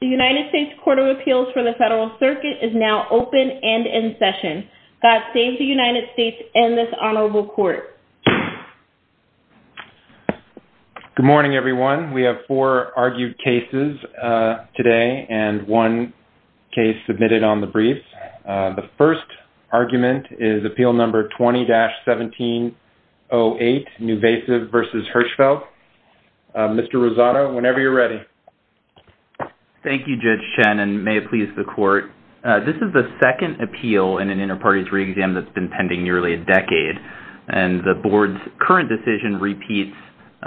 The United States Court of Appeals for the Federal Circuit is now open and in session. God save the United States and this Honorable Court. Good morning everyone. We have four argued cases today and one case submitted on the briefs. The first argument is appeal number 20-1708 NuVasive v. Hirshfeld. Mr. Rosado, whenever you're ready. Thank you, Judge Chen, and may it please the court. This is the second appeal in an inter-parties re-exam that's been pending nearly a decade and the board's current decision repeats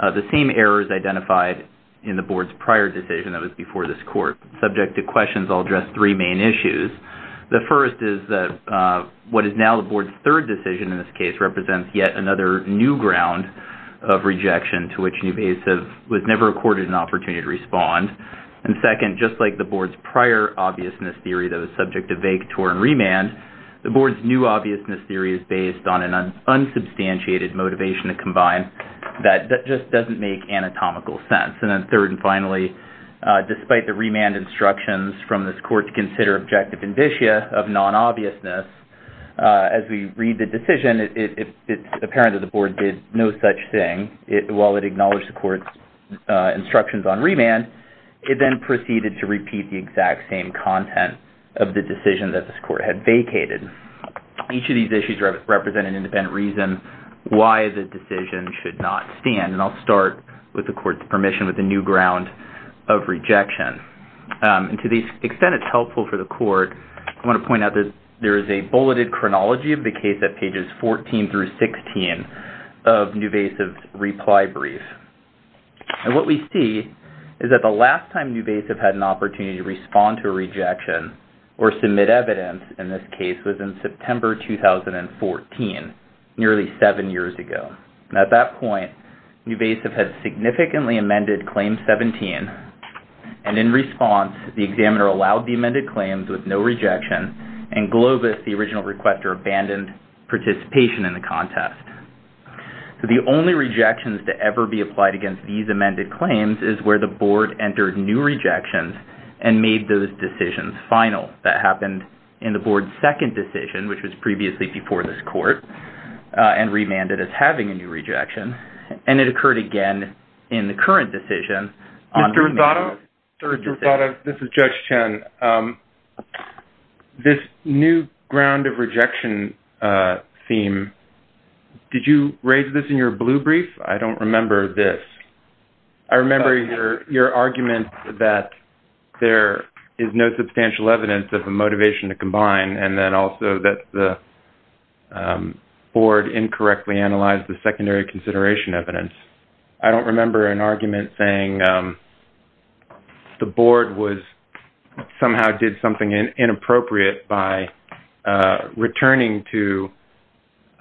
the same errors identified in the board's prior decision that was before this court. Subject to questions, I'll address three main issues. The first is that what is now the board's third decision in this case represents yet another new ground of rejection to which NuVasive was never accorded an opportunity to respond. And second, just like the board's prior obviousness theory that was subject to vague TOR and remand, the board's new obviousness theory is based on an unsubstantiated motivation to combine that just doesn't make anatomical sense. And then third and finally, despite the remand instructions from this court to consider objective indicia of non-obviousness, as we read the decision, it's apparent that the board did no such thing while it acknowledged the court's instructions on remand. It then proceeded to repeat the exact same content of the decision that this court had vacated. Each of these issues represent an independent reason why the decision should not stand. And I'll start with the court's permission with a new ground of rejection. And to the extent it's helpful for the court, I want to point out that there is a bulleted chronology of the case at pages 14 through 16 of NuVasive's reply brief. And what we see is that the last time NuVasive had an opportunity to respond to a rejection or submit evidence in this case was in September 2014, nearly seven years ago. And at that point, NuVasive had significantly amended Claim 17. And in response, the examiner allowed the amended claims with no rejection, and Globus, the original requester, abandoned participation in the contest. So the only rejections to ever be applied against these amended claims is where the board entered new rejections and made those decisions final. That happened in the board's second decision, which was previously before this court, and remanded as having a new rejection. And it occurred again in the current decision. Judge Chen, this new ground of rejection theme, did you raise this in your blue brief? I don't remember this. I remember your argument that there is no substantial evidence of the motivation to combine, and then also that the board incorrectly analyzed the secondary consideration evidence. I don't remember an argument saying the board somehow did something inappropriate by returning to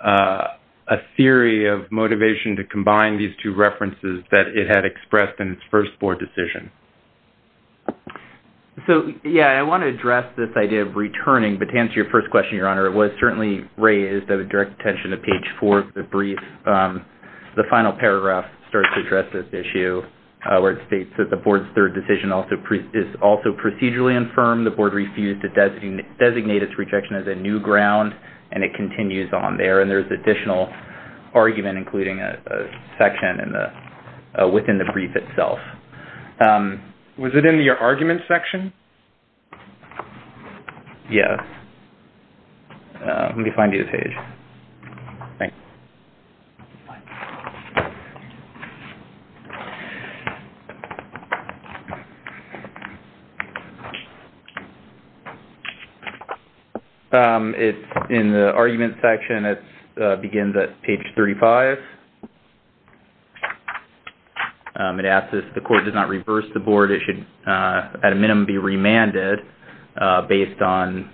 a theory of motivation to combine these two references that it had expressed in its first board decision. So, yeah, I want to address this idea of returning, but to answer your first question, Your Honor, it was certainly raised. I would direct attention to page 4 of the brief. The final paragraph starts to address this issue, where it states that the board's third decision is also procedurally infirm. The board refused to designate its rejection as a new ground, and it continues on there. And there's additional argument, including a section within the brief itself. Was it in your argument section? Yes. Let me find you the page. Thanks. It's in the argument section. It begins at page 35. It asks if the court does not reverse the board, it should at a minimum be remanded based on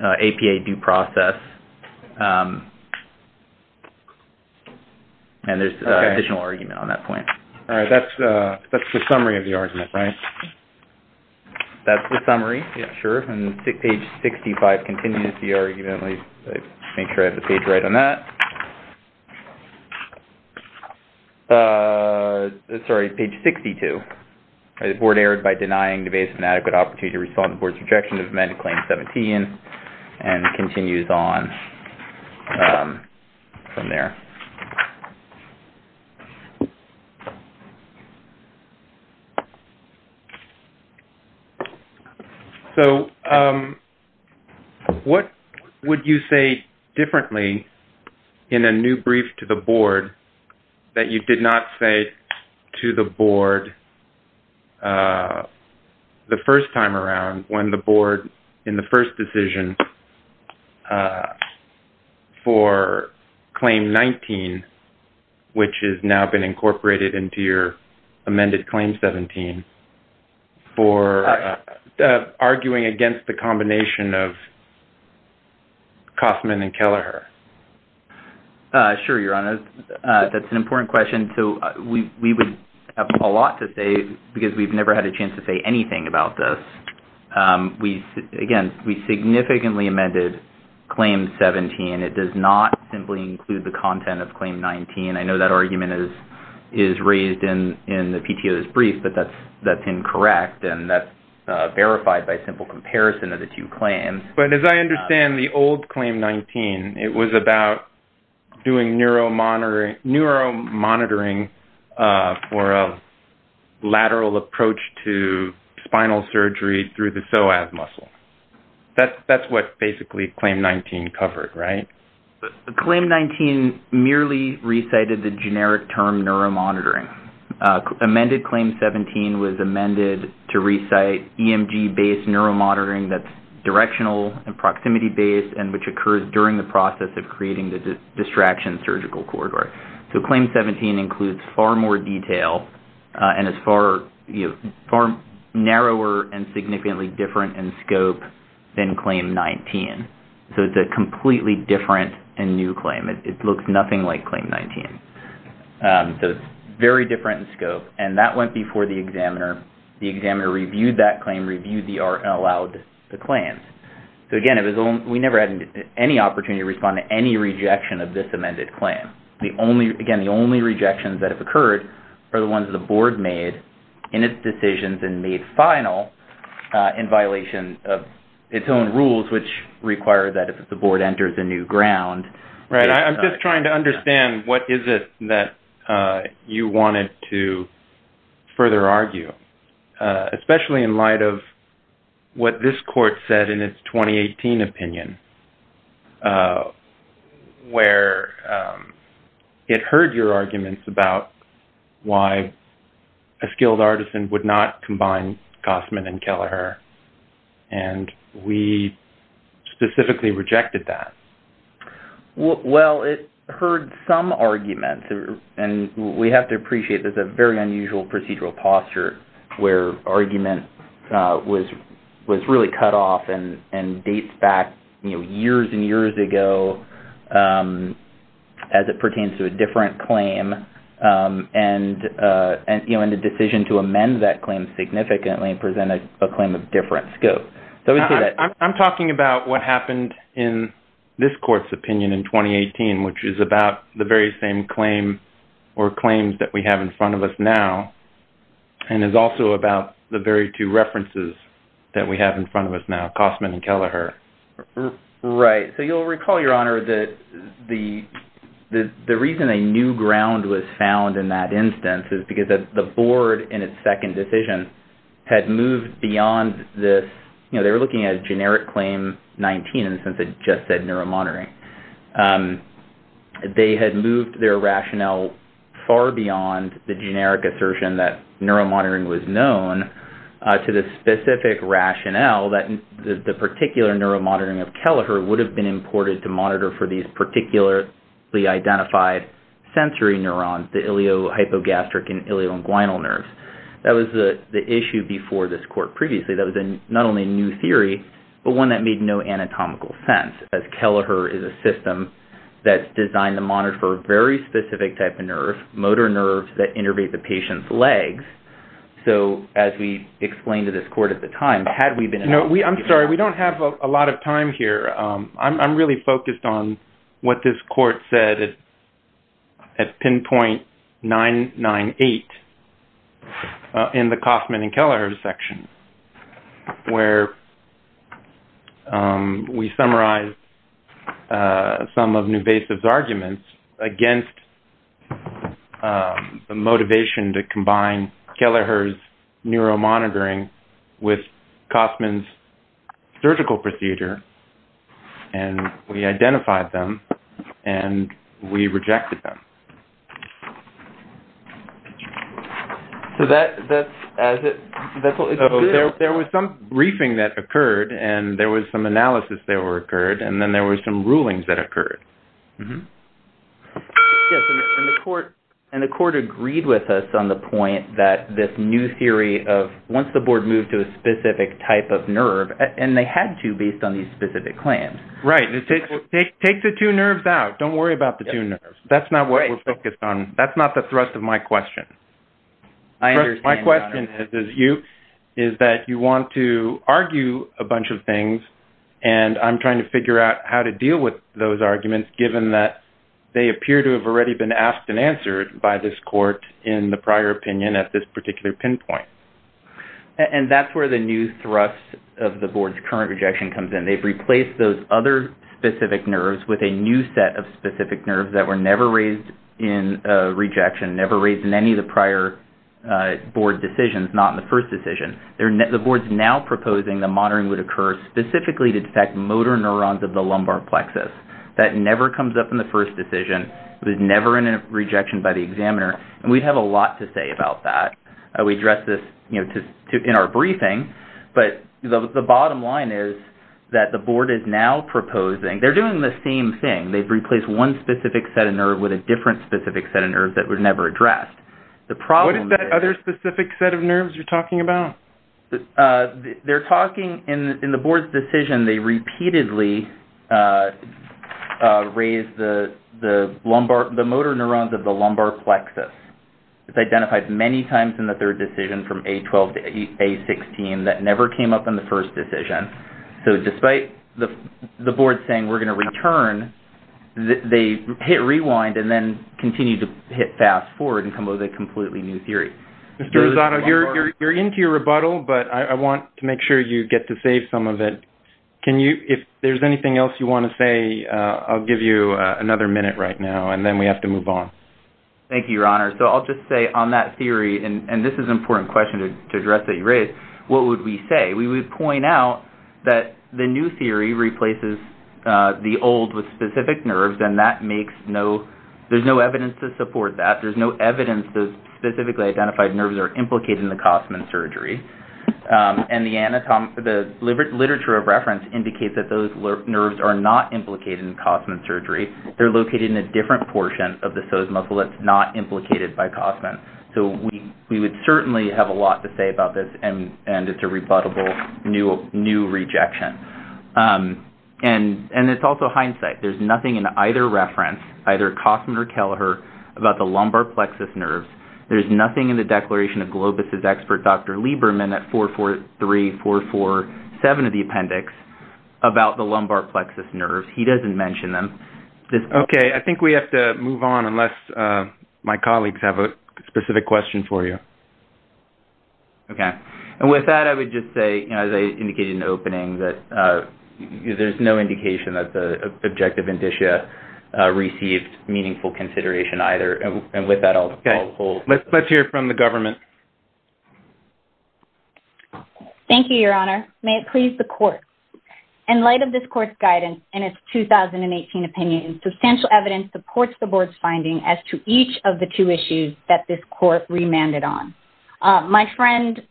APA due process. And there's additional argument on that point. All right. That's the summary of the argument, right? That's the summary. Sure. And page 65 continues the argument. Let me make sure I have the page right on that. Sorry, page 62. The board erred by denying the base of an adequate opportunity to respond to the board's rejection of amended claim 17, and it continues on from there. So what would you say differently in a new brief to the board that you did not say to the board the first time around when the board in the first decision for claim 19, which has now been incorporated into your amended claim 17, for arguing against the combination of Kauffman and Kelleher? Sure, Your Honor. That's an important question. We would have a lot to say, because we've never had a chance to say anything about this. Again, we significantly amended claim 17. It does not simply include the content of claim 19. I know that argument is raised in the PTO's brief, but that's incorrect, and that's verified by simple comparison of the two claims. But as I understand, the old claim 19, it was about doing neuromonitoring for a lateral approach to spinal surgery through the psoas muscle. That's what basically claim 19 covered, right? Claim 19 merely recited the generic term neuromonitoring. Amended claim 17 was amended to recite EMG-based neuromonitoring that's directional and proximity-based and which occurs during the process of creating the distraction surgical corridor. So claim 17 includes far more detail and is far narrower and significantly different in scope than claim 19. So it's a completely different and new claim. It looks nothing like claim 19. So it's very different in scope, and that went before the examiner. The examiner reviewed that claim, reviewed the art, and allowed the claims. So again, we never had any opportunity to respond to any rejection of this amended claim. Again, the only rejections that have occurred are the ones the board made in its decisions and made final in violation of its own rules, which require that if the board enters a new ground... Right. I'm just trying to understand what is it that you wanted to further argue, especially in light of what this court said in its 2018 opinion, where it heard your arguments about why a skilled artisan would not combine Gossman and Kelleher, and we specifically rejected that. Well, it heard some arguments, and we have to appreciate there's a very unusual procedural posture where argument was really cut off and dates back years and years ago as it pertains to a different claim and the decision to amend that claim significantly presented a claim of different scope. I'm talking about what happened in this court's opinion in 2018, which is about the very same claim or claims that we have in front of us now, and is also about the very two references that we have in front of us now, Gossman and Kelleher. Right. So you'll recall, Your Honor, that the reason a new ground was found in that instance is because the board in its second decision had moved beyond this... had just said neuromonitoring. They had moved their rationale far beyond the generic assertion that neuromonitoring was known to the specific rationale that the particular neuromonitoring of Kelleher would have been imported to monitor for these particularly identified sensory neurons, the iliohypogastric and ilioinguinal nerves. That was the issue before this court previously. That was not only a new theory, but one that made no anatomical sense, as Kelleher is a system that's designed to monitor for a very specific type of nerve, motor nerves that innervate the patient's legs. So as we explained to this court at the time, had we been... I'm sorry. We don't have a lot of time here. I'm really focused on what this court said at pinpoint 998 in the Kauffman and Kelleher section, where we summarized some of Nuvasiv's arguments against the motivation to combine Kelleher's neuromonitoring with Kauffman's surgical procedure, and we identified them, and we rejected them. There was some briefing that occurred, and there was some analysis that occurred, and then there were some rulings that occurred. And the court agreed with us on the point that this new theory of once the board moved to a specific type of nerve, and they had to based on these specific claims. Right. Take the two nerves out. Don't worry about the two nerves. That's not what we're focused on. That's not the thrust of my question. My question is that you want to argue a bunch of things, and I'm trying to figure out how to deal with those arguments, given that they appear to have already been asked and answered by this court in the prior opinion at this particular pinpoint. And that's where the new thrust of the board's current rejection comes in. They've replaced those other specific nerves with a new set of specific nerves that were never raised in the prior opinion. The board is now proposing that monitoring would occur specifically to detect motor neurons of the lumbar plexus. That never comes up in the first decision. It was never in a rejection by the examiner. And we have a lot to say about that. We addressed this in our briefing, but the bottom line is that the board is now proposing. They're doing the same thing. They've replaced one specific set of nerves with a different specific set of nerves that were never addressed. What is that other specific set of nerves you're talking about? They're talking in the board's decision. They repeatedly raised the motor neurons of the lumbar plexus. It's identified many times in the third decision from A12 to A16. That never came up in the first decision. So despite the board saying we're going to return, they hit rewind and then continue to hit fast forward and come up with a completely new theory. Mr. Rosato, you're into your rebuttal, but I want to make sure you get to save some of it. If there's anything else you want to say, I'll give you another minute right now, and then we have to move on. Thank you, Your Honor. So I'll just say on that theory, and this is an important question to address that you raised, what would we say? We would point out that the new theory replaces the old with specific nerves, and there's no evidence to support that. There's no evidence those specifically identified nerves are implicated in the Kossman surgery. And the literature of reference indicates that those nerves are not implicated in Kossman surgery. They're located in a different portion of the psoas muscle that's not implicated by Kossman. So we would certainly have a lot to say about this, and it's a rebuttable new rejection. And it's also hindsight. There's nothing in either reference, either Kossman or Kelleher, about the lumbar plexus nerves. There's nothing in the declaration of Globus' expert Dr. Lieberman at 443447 of the appendix about the lumbar plexus nerves. He doesn't mention them. Okay. I think we have to move on unless my colleagues have a specific question for you. Okay. And with that, I would just say, as I indicated in the opening, that there's no indication that the objective indicia received meaningful consideration either. And with that, I'll hold. Okay. Let's hear from the government. Thank you, Your Honor. May it please the Court. In light of this Court's guidance in its 2018 opinion, substantial evidence supports the Board's finding as to each of the two issues that this Court remanded on. My friend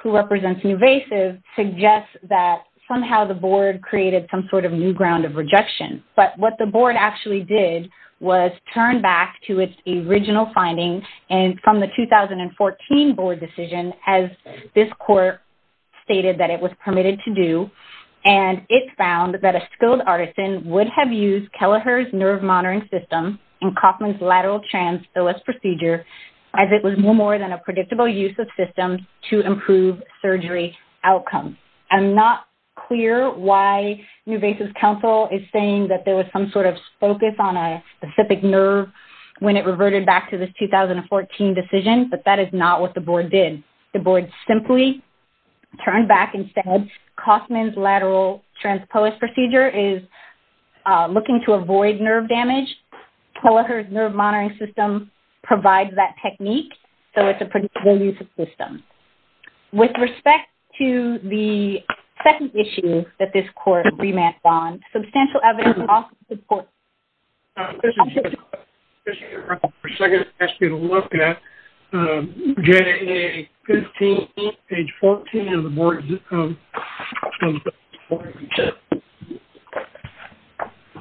who represents Nuvasiv suggests that somehow the Board created some sort of new ground of rejection. But what the Board actually did was turn back to its original finding from the 2014 Board decision as this Court stated that it was permitted to do and it found that a skilled artisan would have used Kelleher's nerve monitoring system in Kossman's lateral transphallus procedure as it was no more than a predictable use of systems to improve surgery outcomes. I'm not clear why Nuvasiv's counsel is saying that there was some sort of focus on a specific nerve when it reverted back to this 2014 decision, but that is not what the Board did. The Board simply turned back and said Kossman's lateral transphallus procedure is looking to avoid nerve damage. Kelleher's nerve monitoring system provides that technique, so it's a predictable use of systems. With respect to the second issue that this Court remanded on, substantial evidence also supports... I'm going to ask you to look at JNA 15, page 14 of the Board...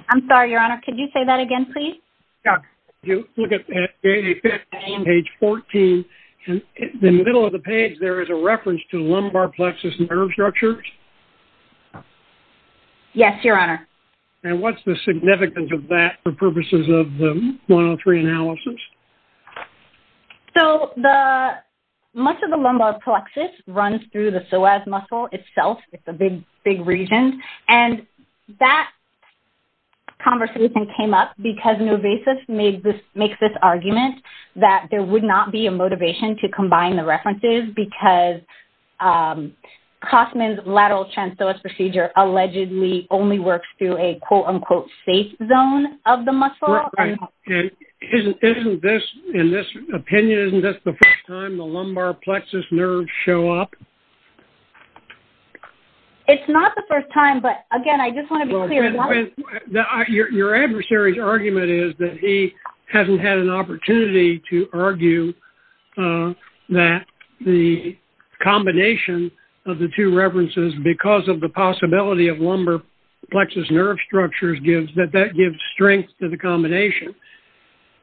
I'm sorry, Your Honor. Could you say that again, please? JNA 15, page 14. In the middle of the page, there is a reference to lumbar plexus nerve structures. Yes, Your Honor. And what's the significance of that for purposes of the 103 analysis? So, much of the lumbar plexus runs through the psoas muscle itself. It's a big region. And that conversation came up because Nuvasiv makes this argument that there would not be a motivation to combine the references because Kossman's lateral transphallus procedure allegedly only works through a quote-unquote safe zone of the muscle. And isn't this, in this opinion, isn't this the first time the lumbar plexus nerves show up? It's not the first time, but again, I just want to be clear. Your adversary's argument is that he hasn't had an opportunity to argue that the combination of the two references, because of the possibility of lumbar plexus nerve structures, that that gives strength to the combination.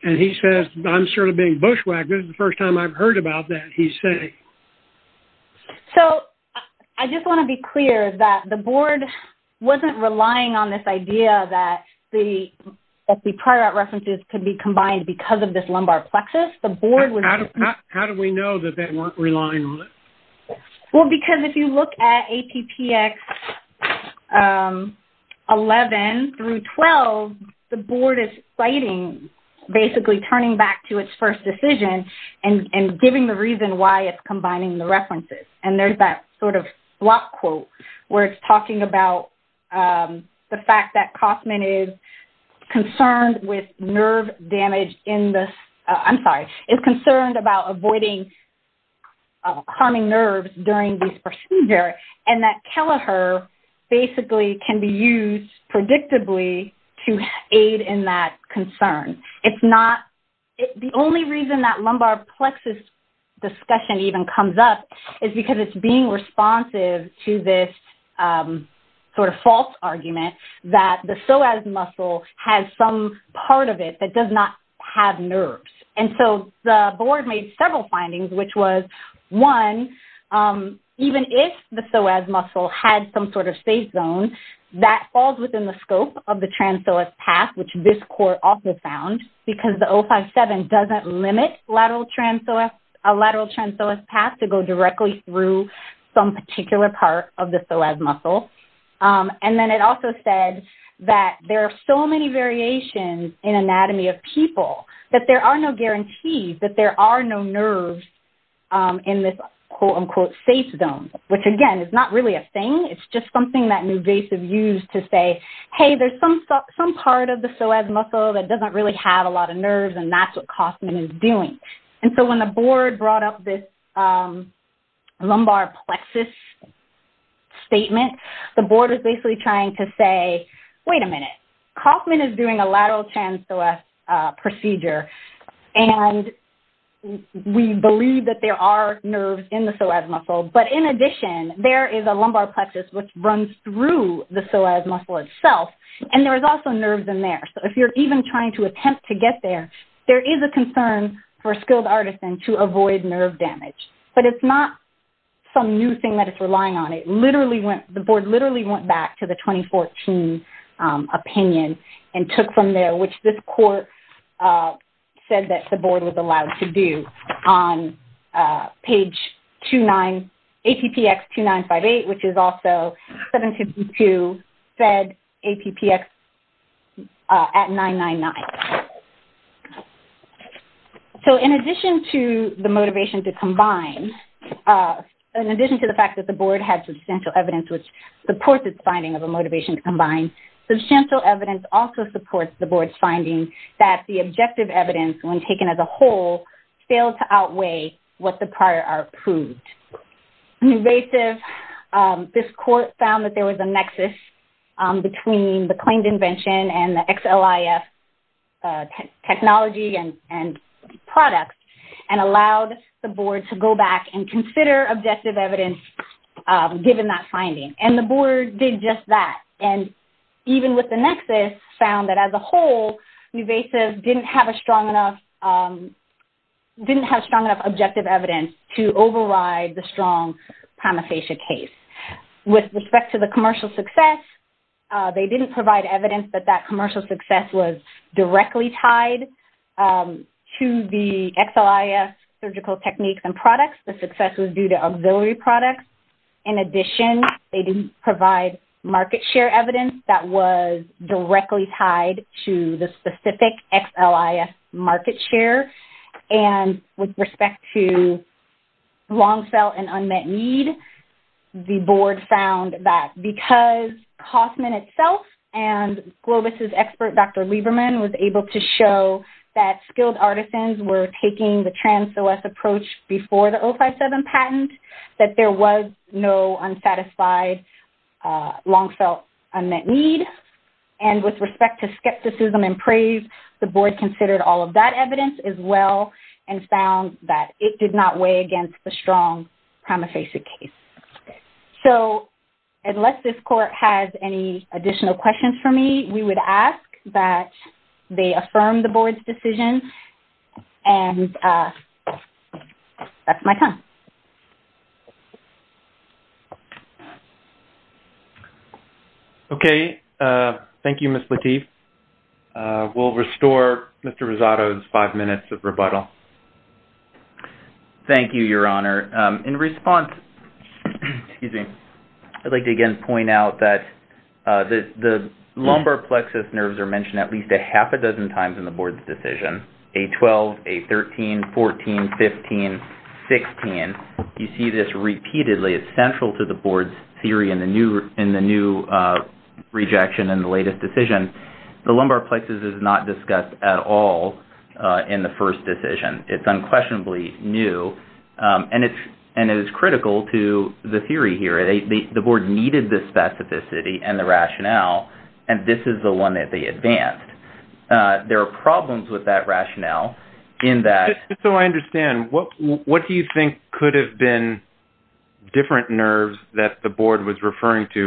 And he says, I'm sort of being bushwhacked, this is the first time I've heard about that, he's saying. So, I just want to be clear that the board wasn't relying on this idea that the prior art references could be combined because of this lumbar plexus. How do we know that they weren't relying on it? Well, because if you look at APPX 11 through 12, the board is citing basically turning back to its first decision and giving the reason why it's combining the references. And there's that sort of block quote where it's talking about the fact that Kossman is concerned with nerve during this procedure and that Kelleher basically can be used predictably to aid in that concern. The only reason that lumbar plexus discussion even comes up is because it's being responsive to this sort of false argument that the psoas muscle has some part of it that does not have nerves. And so, the board made several findings, which was, one, even if the psoas muscle had some sort of safe zone, that falls within the scope of the trans-psoas path, which this court also found, because the 057 doesn't limit a lateral trans-psoas path to go directly through some particular part of the psoas muscle. And then it also said that there are so many variations in anatomy of people that there are no guarantees that there are no nerves in this quote unquote safe zone, which again is not really a thing. It's just something that Newvasive used to say, hey, there's some part of the psoas muscle that doesn't really have a lot of nerves and that's what Kossman is doing. And so, when the board brought up this lumbar plexus statement, the board is basically trying to say, wait a minute, Kossman is doing a lateral trans-psoas procedure and we believe that there are nerves in the psoas muscle, but in addition, there is a lumbar plexus which runs through the psoas muscle itself and there is also nerves in there. So, if you're even trying to attempt to get there, there is a concern for a skilled artisan to avoid nerve damage, but it's not some new thing that it's relying on. The board literally went back to the 2014 opinion and took from there, which this court said that the board was allowed to do on page 29, APPX 2958, which is also 752, fed APPX at 999. So, in addition to the motivation to combine, in addition to the fact that the board had substantial evidence which supports its finding of a motivation to combine, substantial evidence also supports the board's finding that the objective evidence, when taken as a whole, failed to outweigh what the prior art proved. Invasive, this court found that there was a nexus between the claimed invention and the XLIF technology and products and allowed the board to go back and consider objective evidence given that finding. And the board did just that. And even with the nexus, found that as a whole, Invasive didn't have a strong enough objective evidence to override the strong primasasia case. With respect to the commercial success, they didn't provide evidence that that commercial success was directly tied to the XLIF surgical techniques and products. The success was due to auxiliary products. In addition, they didn't provide market share evidence that was directly tied to the specific XLIF market share. And with respect to long sell and unmet need, the board found that because Kauffman itself and Globus' expert, Dr. Lieberman, was able to show that skilled artisans were taking the trans-OS approach before the 057 patent, that there was no unsatisfied long sell unmet need. And with respect to skepticism and praise, the board considered all of that evidence as well and found that it did not weigh against the strong primasasia case. So unless this court has any additional questions for me, we would ask that they affirm the board's decision. And that's my time. Okay. Thank you, Ms. Lateef. We'll restore Mr. Rosato's five minutes of rebuttal. Thank you, Your Honor. In response, I'd like to again point out that the lumbar plexus nerves are mentioned at least a half a dozen times in the board's decision. A12, A13, 14, 15, 16. You see this repeatedly. It's central to the board's theory in the new rejection in the latest decision. The lumbar plexus is not discussed at all in the first decision. It's unquestionably new, and it is critical to the theory here. The board needed the specificity and the rationale, and this is the one that they advanced. There are problems with that rationale in that... Just so I understand, what Well, I don't think it was referring to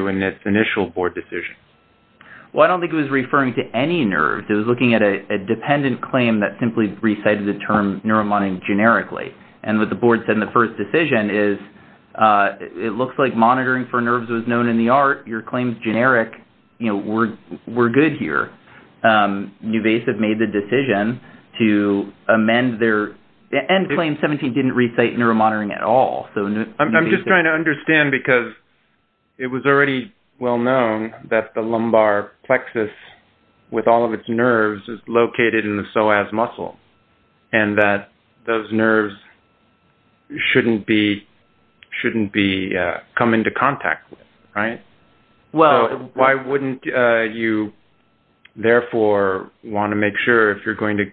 any nerves. It was looking at a dependent claim that simply recited the term neuromonitoring generically. And what the board said in the first decision is, it looks like monitoring for nerves was known in the art. Your claims generic were good here. Nuvasiv made the decision to amend their... And claim 17 didn't recite neuromonitoring at all. I'm just trying to understand, because it was already well known that the lumbar plexus, with all of its nerves, is located in the psoas muscle, and that those nerves shouldn't be come into contact with, right? Why wouldn't you, therefore, want to make sure, if you're going to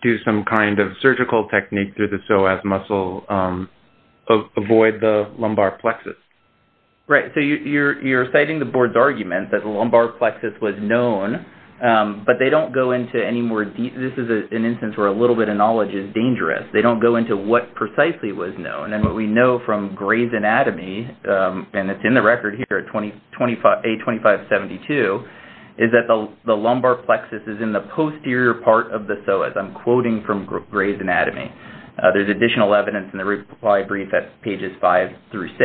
do some kind of surgical technique through the psoas muscle, avoid the lumbar plexus? Right. So you're citing the board's argument that the lumbar plexus was known, but they don't go into any more... This is an instance where a little bit of knowledge is dangerous. They don't go into what precisely was known. And what we know from Gray's Anatomy, and it's in the anterior part of the psoas. I'm quoting from Gray's Anatomy. There's additional evidence in the reply brief at pages 5 through 6.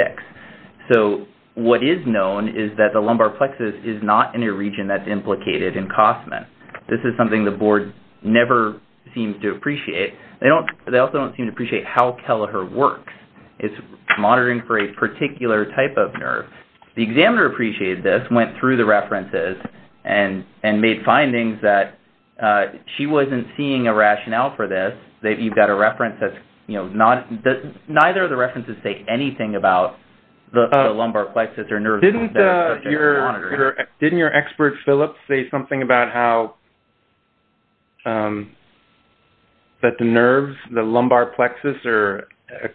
So what is known is that the lumbar plexus is not in a region that's implicated in Kossman. This is something the board never seems to appreciate. They also don't seem to appreciate how Kelleher works. It's monitoring for a particular type of nerve. The examiner appreciated this, went through the references, and made findings that she wasn't seeing a rationale for this. You've got a reference that's, you know, neither of the references say anything about the lumbar plexus or nerves. Didn't your expert, Philip, say something about how that the nerves, the lumbar plexus, are a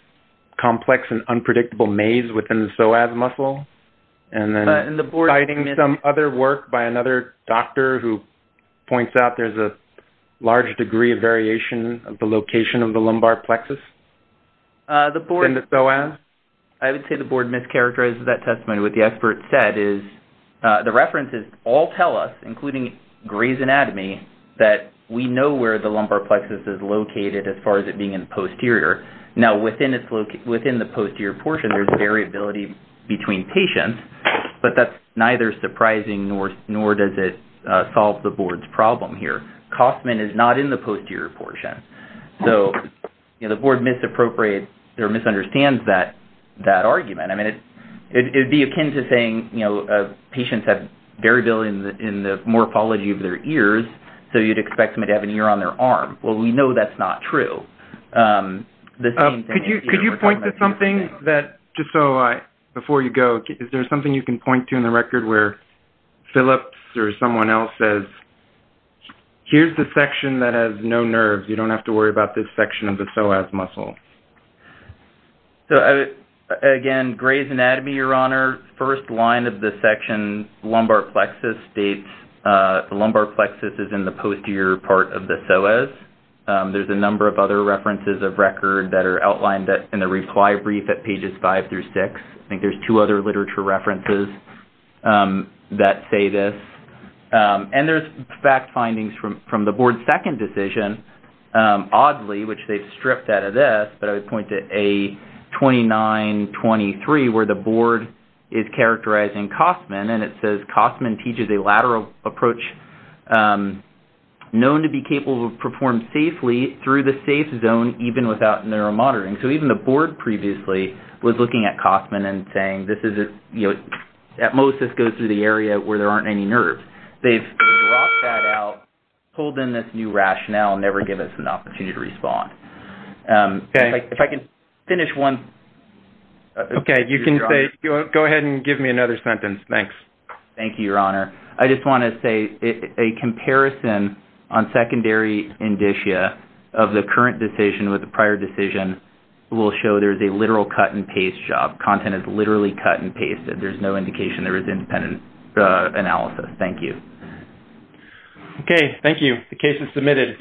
complex and unpredictable maze within the psoas muscle? And then citing some other work by another doctor who points out there's a large degree of variation of the location of the lumbar plexus in the psoas? I would say the board mischaracterizes that testimony. What the board says is that we know where the lumbar plexus is located as far as it being in the posterior. Now, within the posterior portion, there's variability between patients, but that's neither surprising nor does it solve the board's problem here. Kossman is not in the posterior portion. So the board misappropriates or misunderstands that argument. It would be akin to saying patients have variability in the morphology of their ears, so you'd expect them to have an ear on their arm. Well, we know that's not true. Could you point to something that, just so before you go, is there something you can point to in the record where Philip or someone else says, here's the section that has no nerves. You don't have to worry about this section of the psoas muscle. Again, Gray's Anatomy, Your Honor, first line of the section lumbar plexus states the lumbar plexus is in the posterior part of the psoas. There's a number of other references of record that are outlined in the reply brief at pages five through six. I think there's two other literature references that say this. And there's fact findings from the board's second decision. Oddly, which they've stripped out of this, but I would point to A2923 where the board is characterizing Kossman, and it says Kossman teaches a lateral approach known to be capable of performing safely through the safe zone even without neuromoderating. So even the board previously was looking at Kossman and saying, at most this goes through the area where there aren't any nerves. They've dropped that out, pulled in this new rationale, and never give us an opportunity to respond. If I can finish one. Okay. You can go ahead and give me another sentence. Thanks. Thank you, Your Honor. I just want to say a comparison on secondary indicia of the current decision with the prior decision will show there's a literal cut-and-paste job. Content is literally cut-and-pasted. There's no indication there is independent analysis. Thank you. Okay. Thank you. The case is submitted.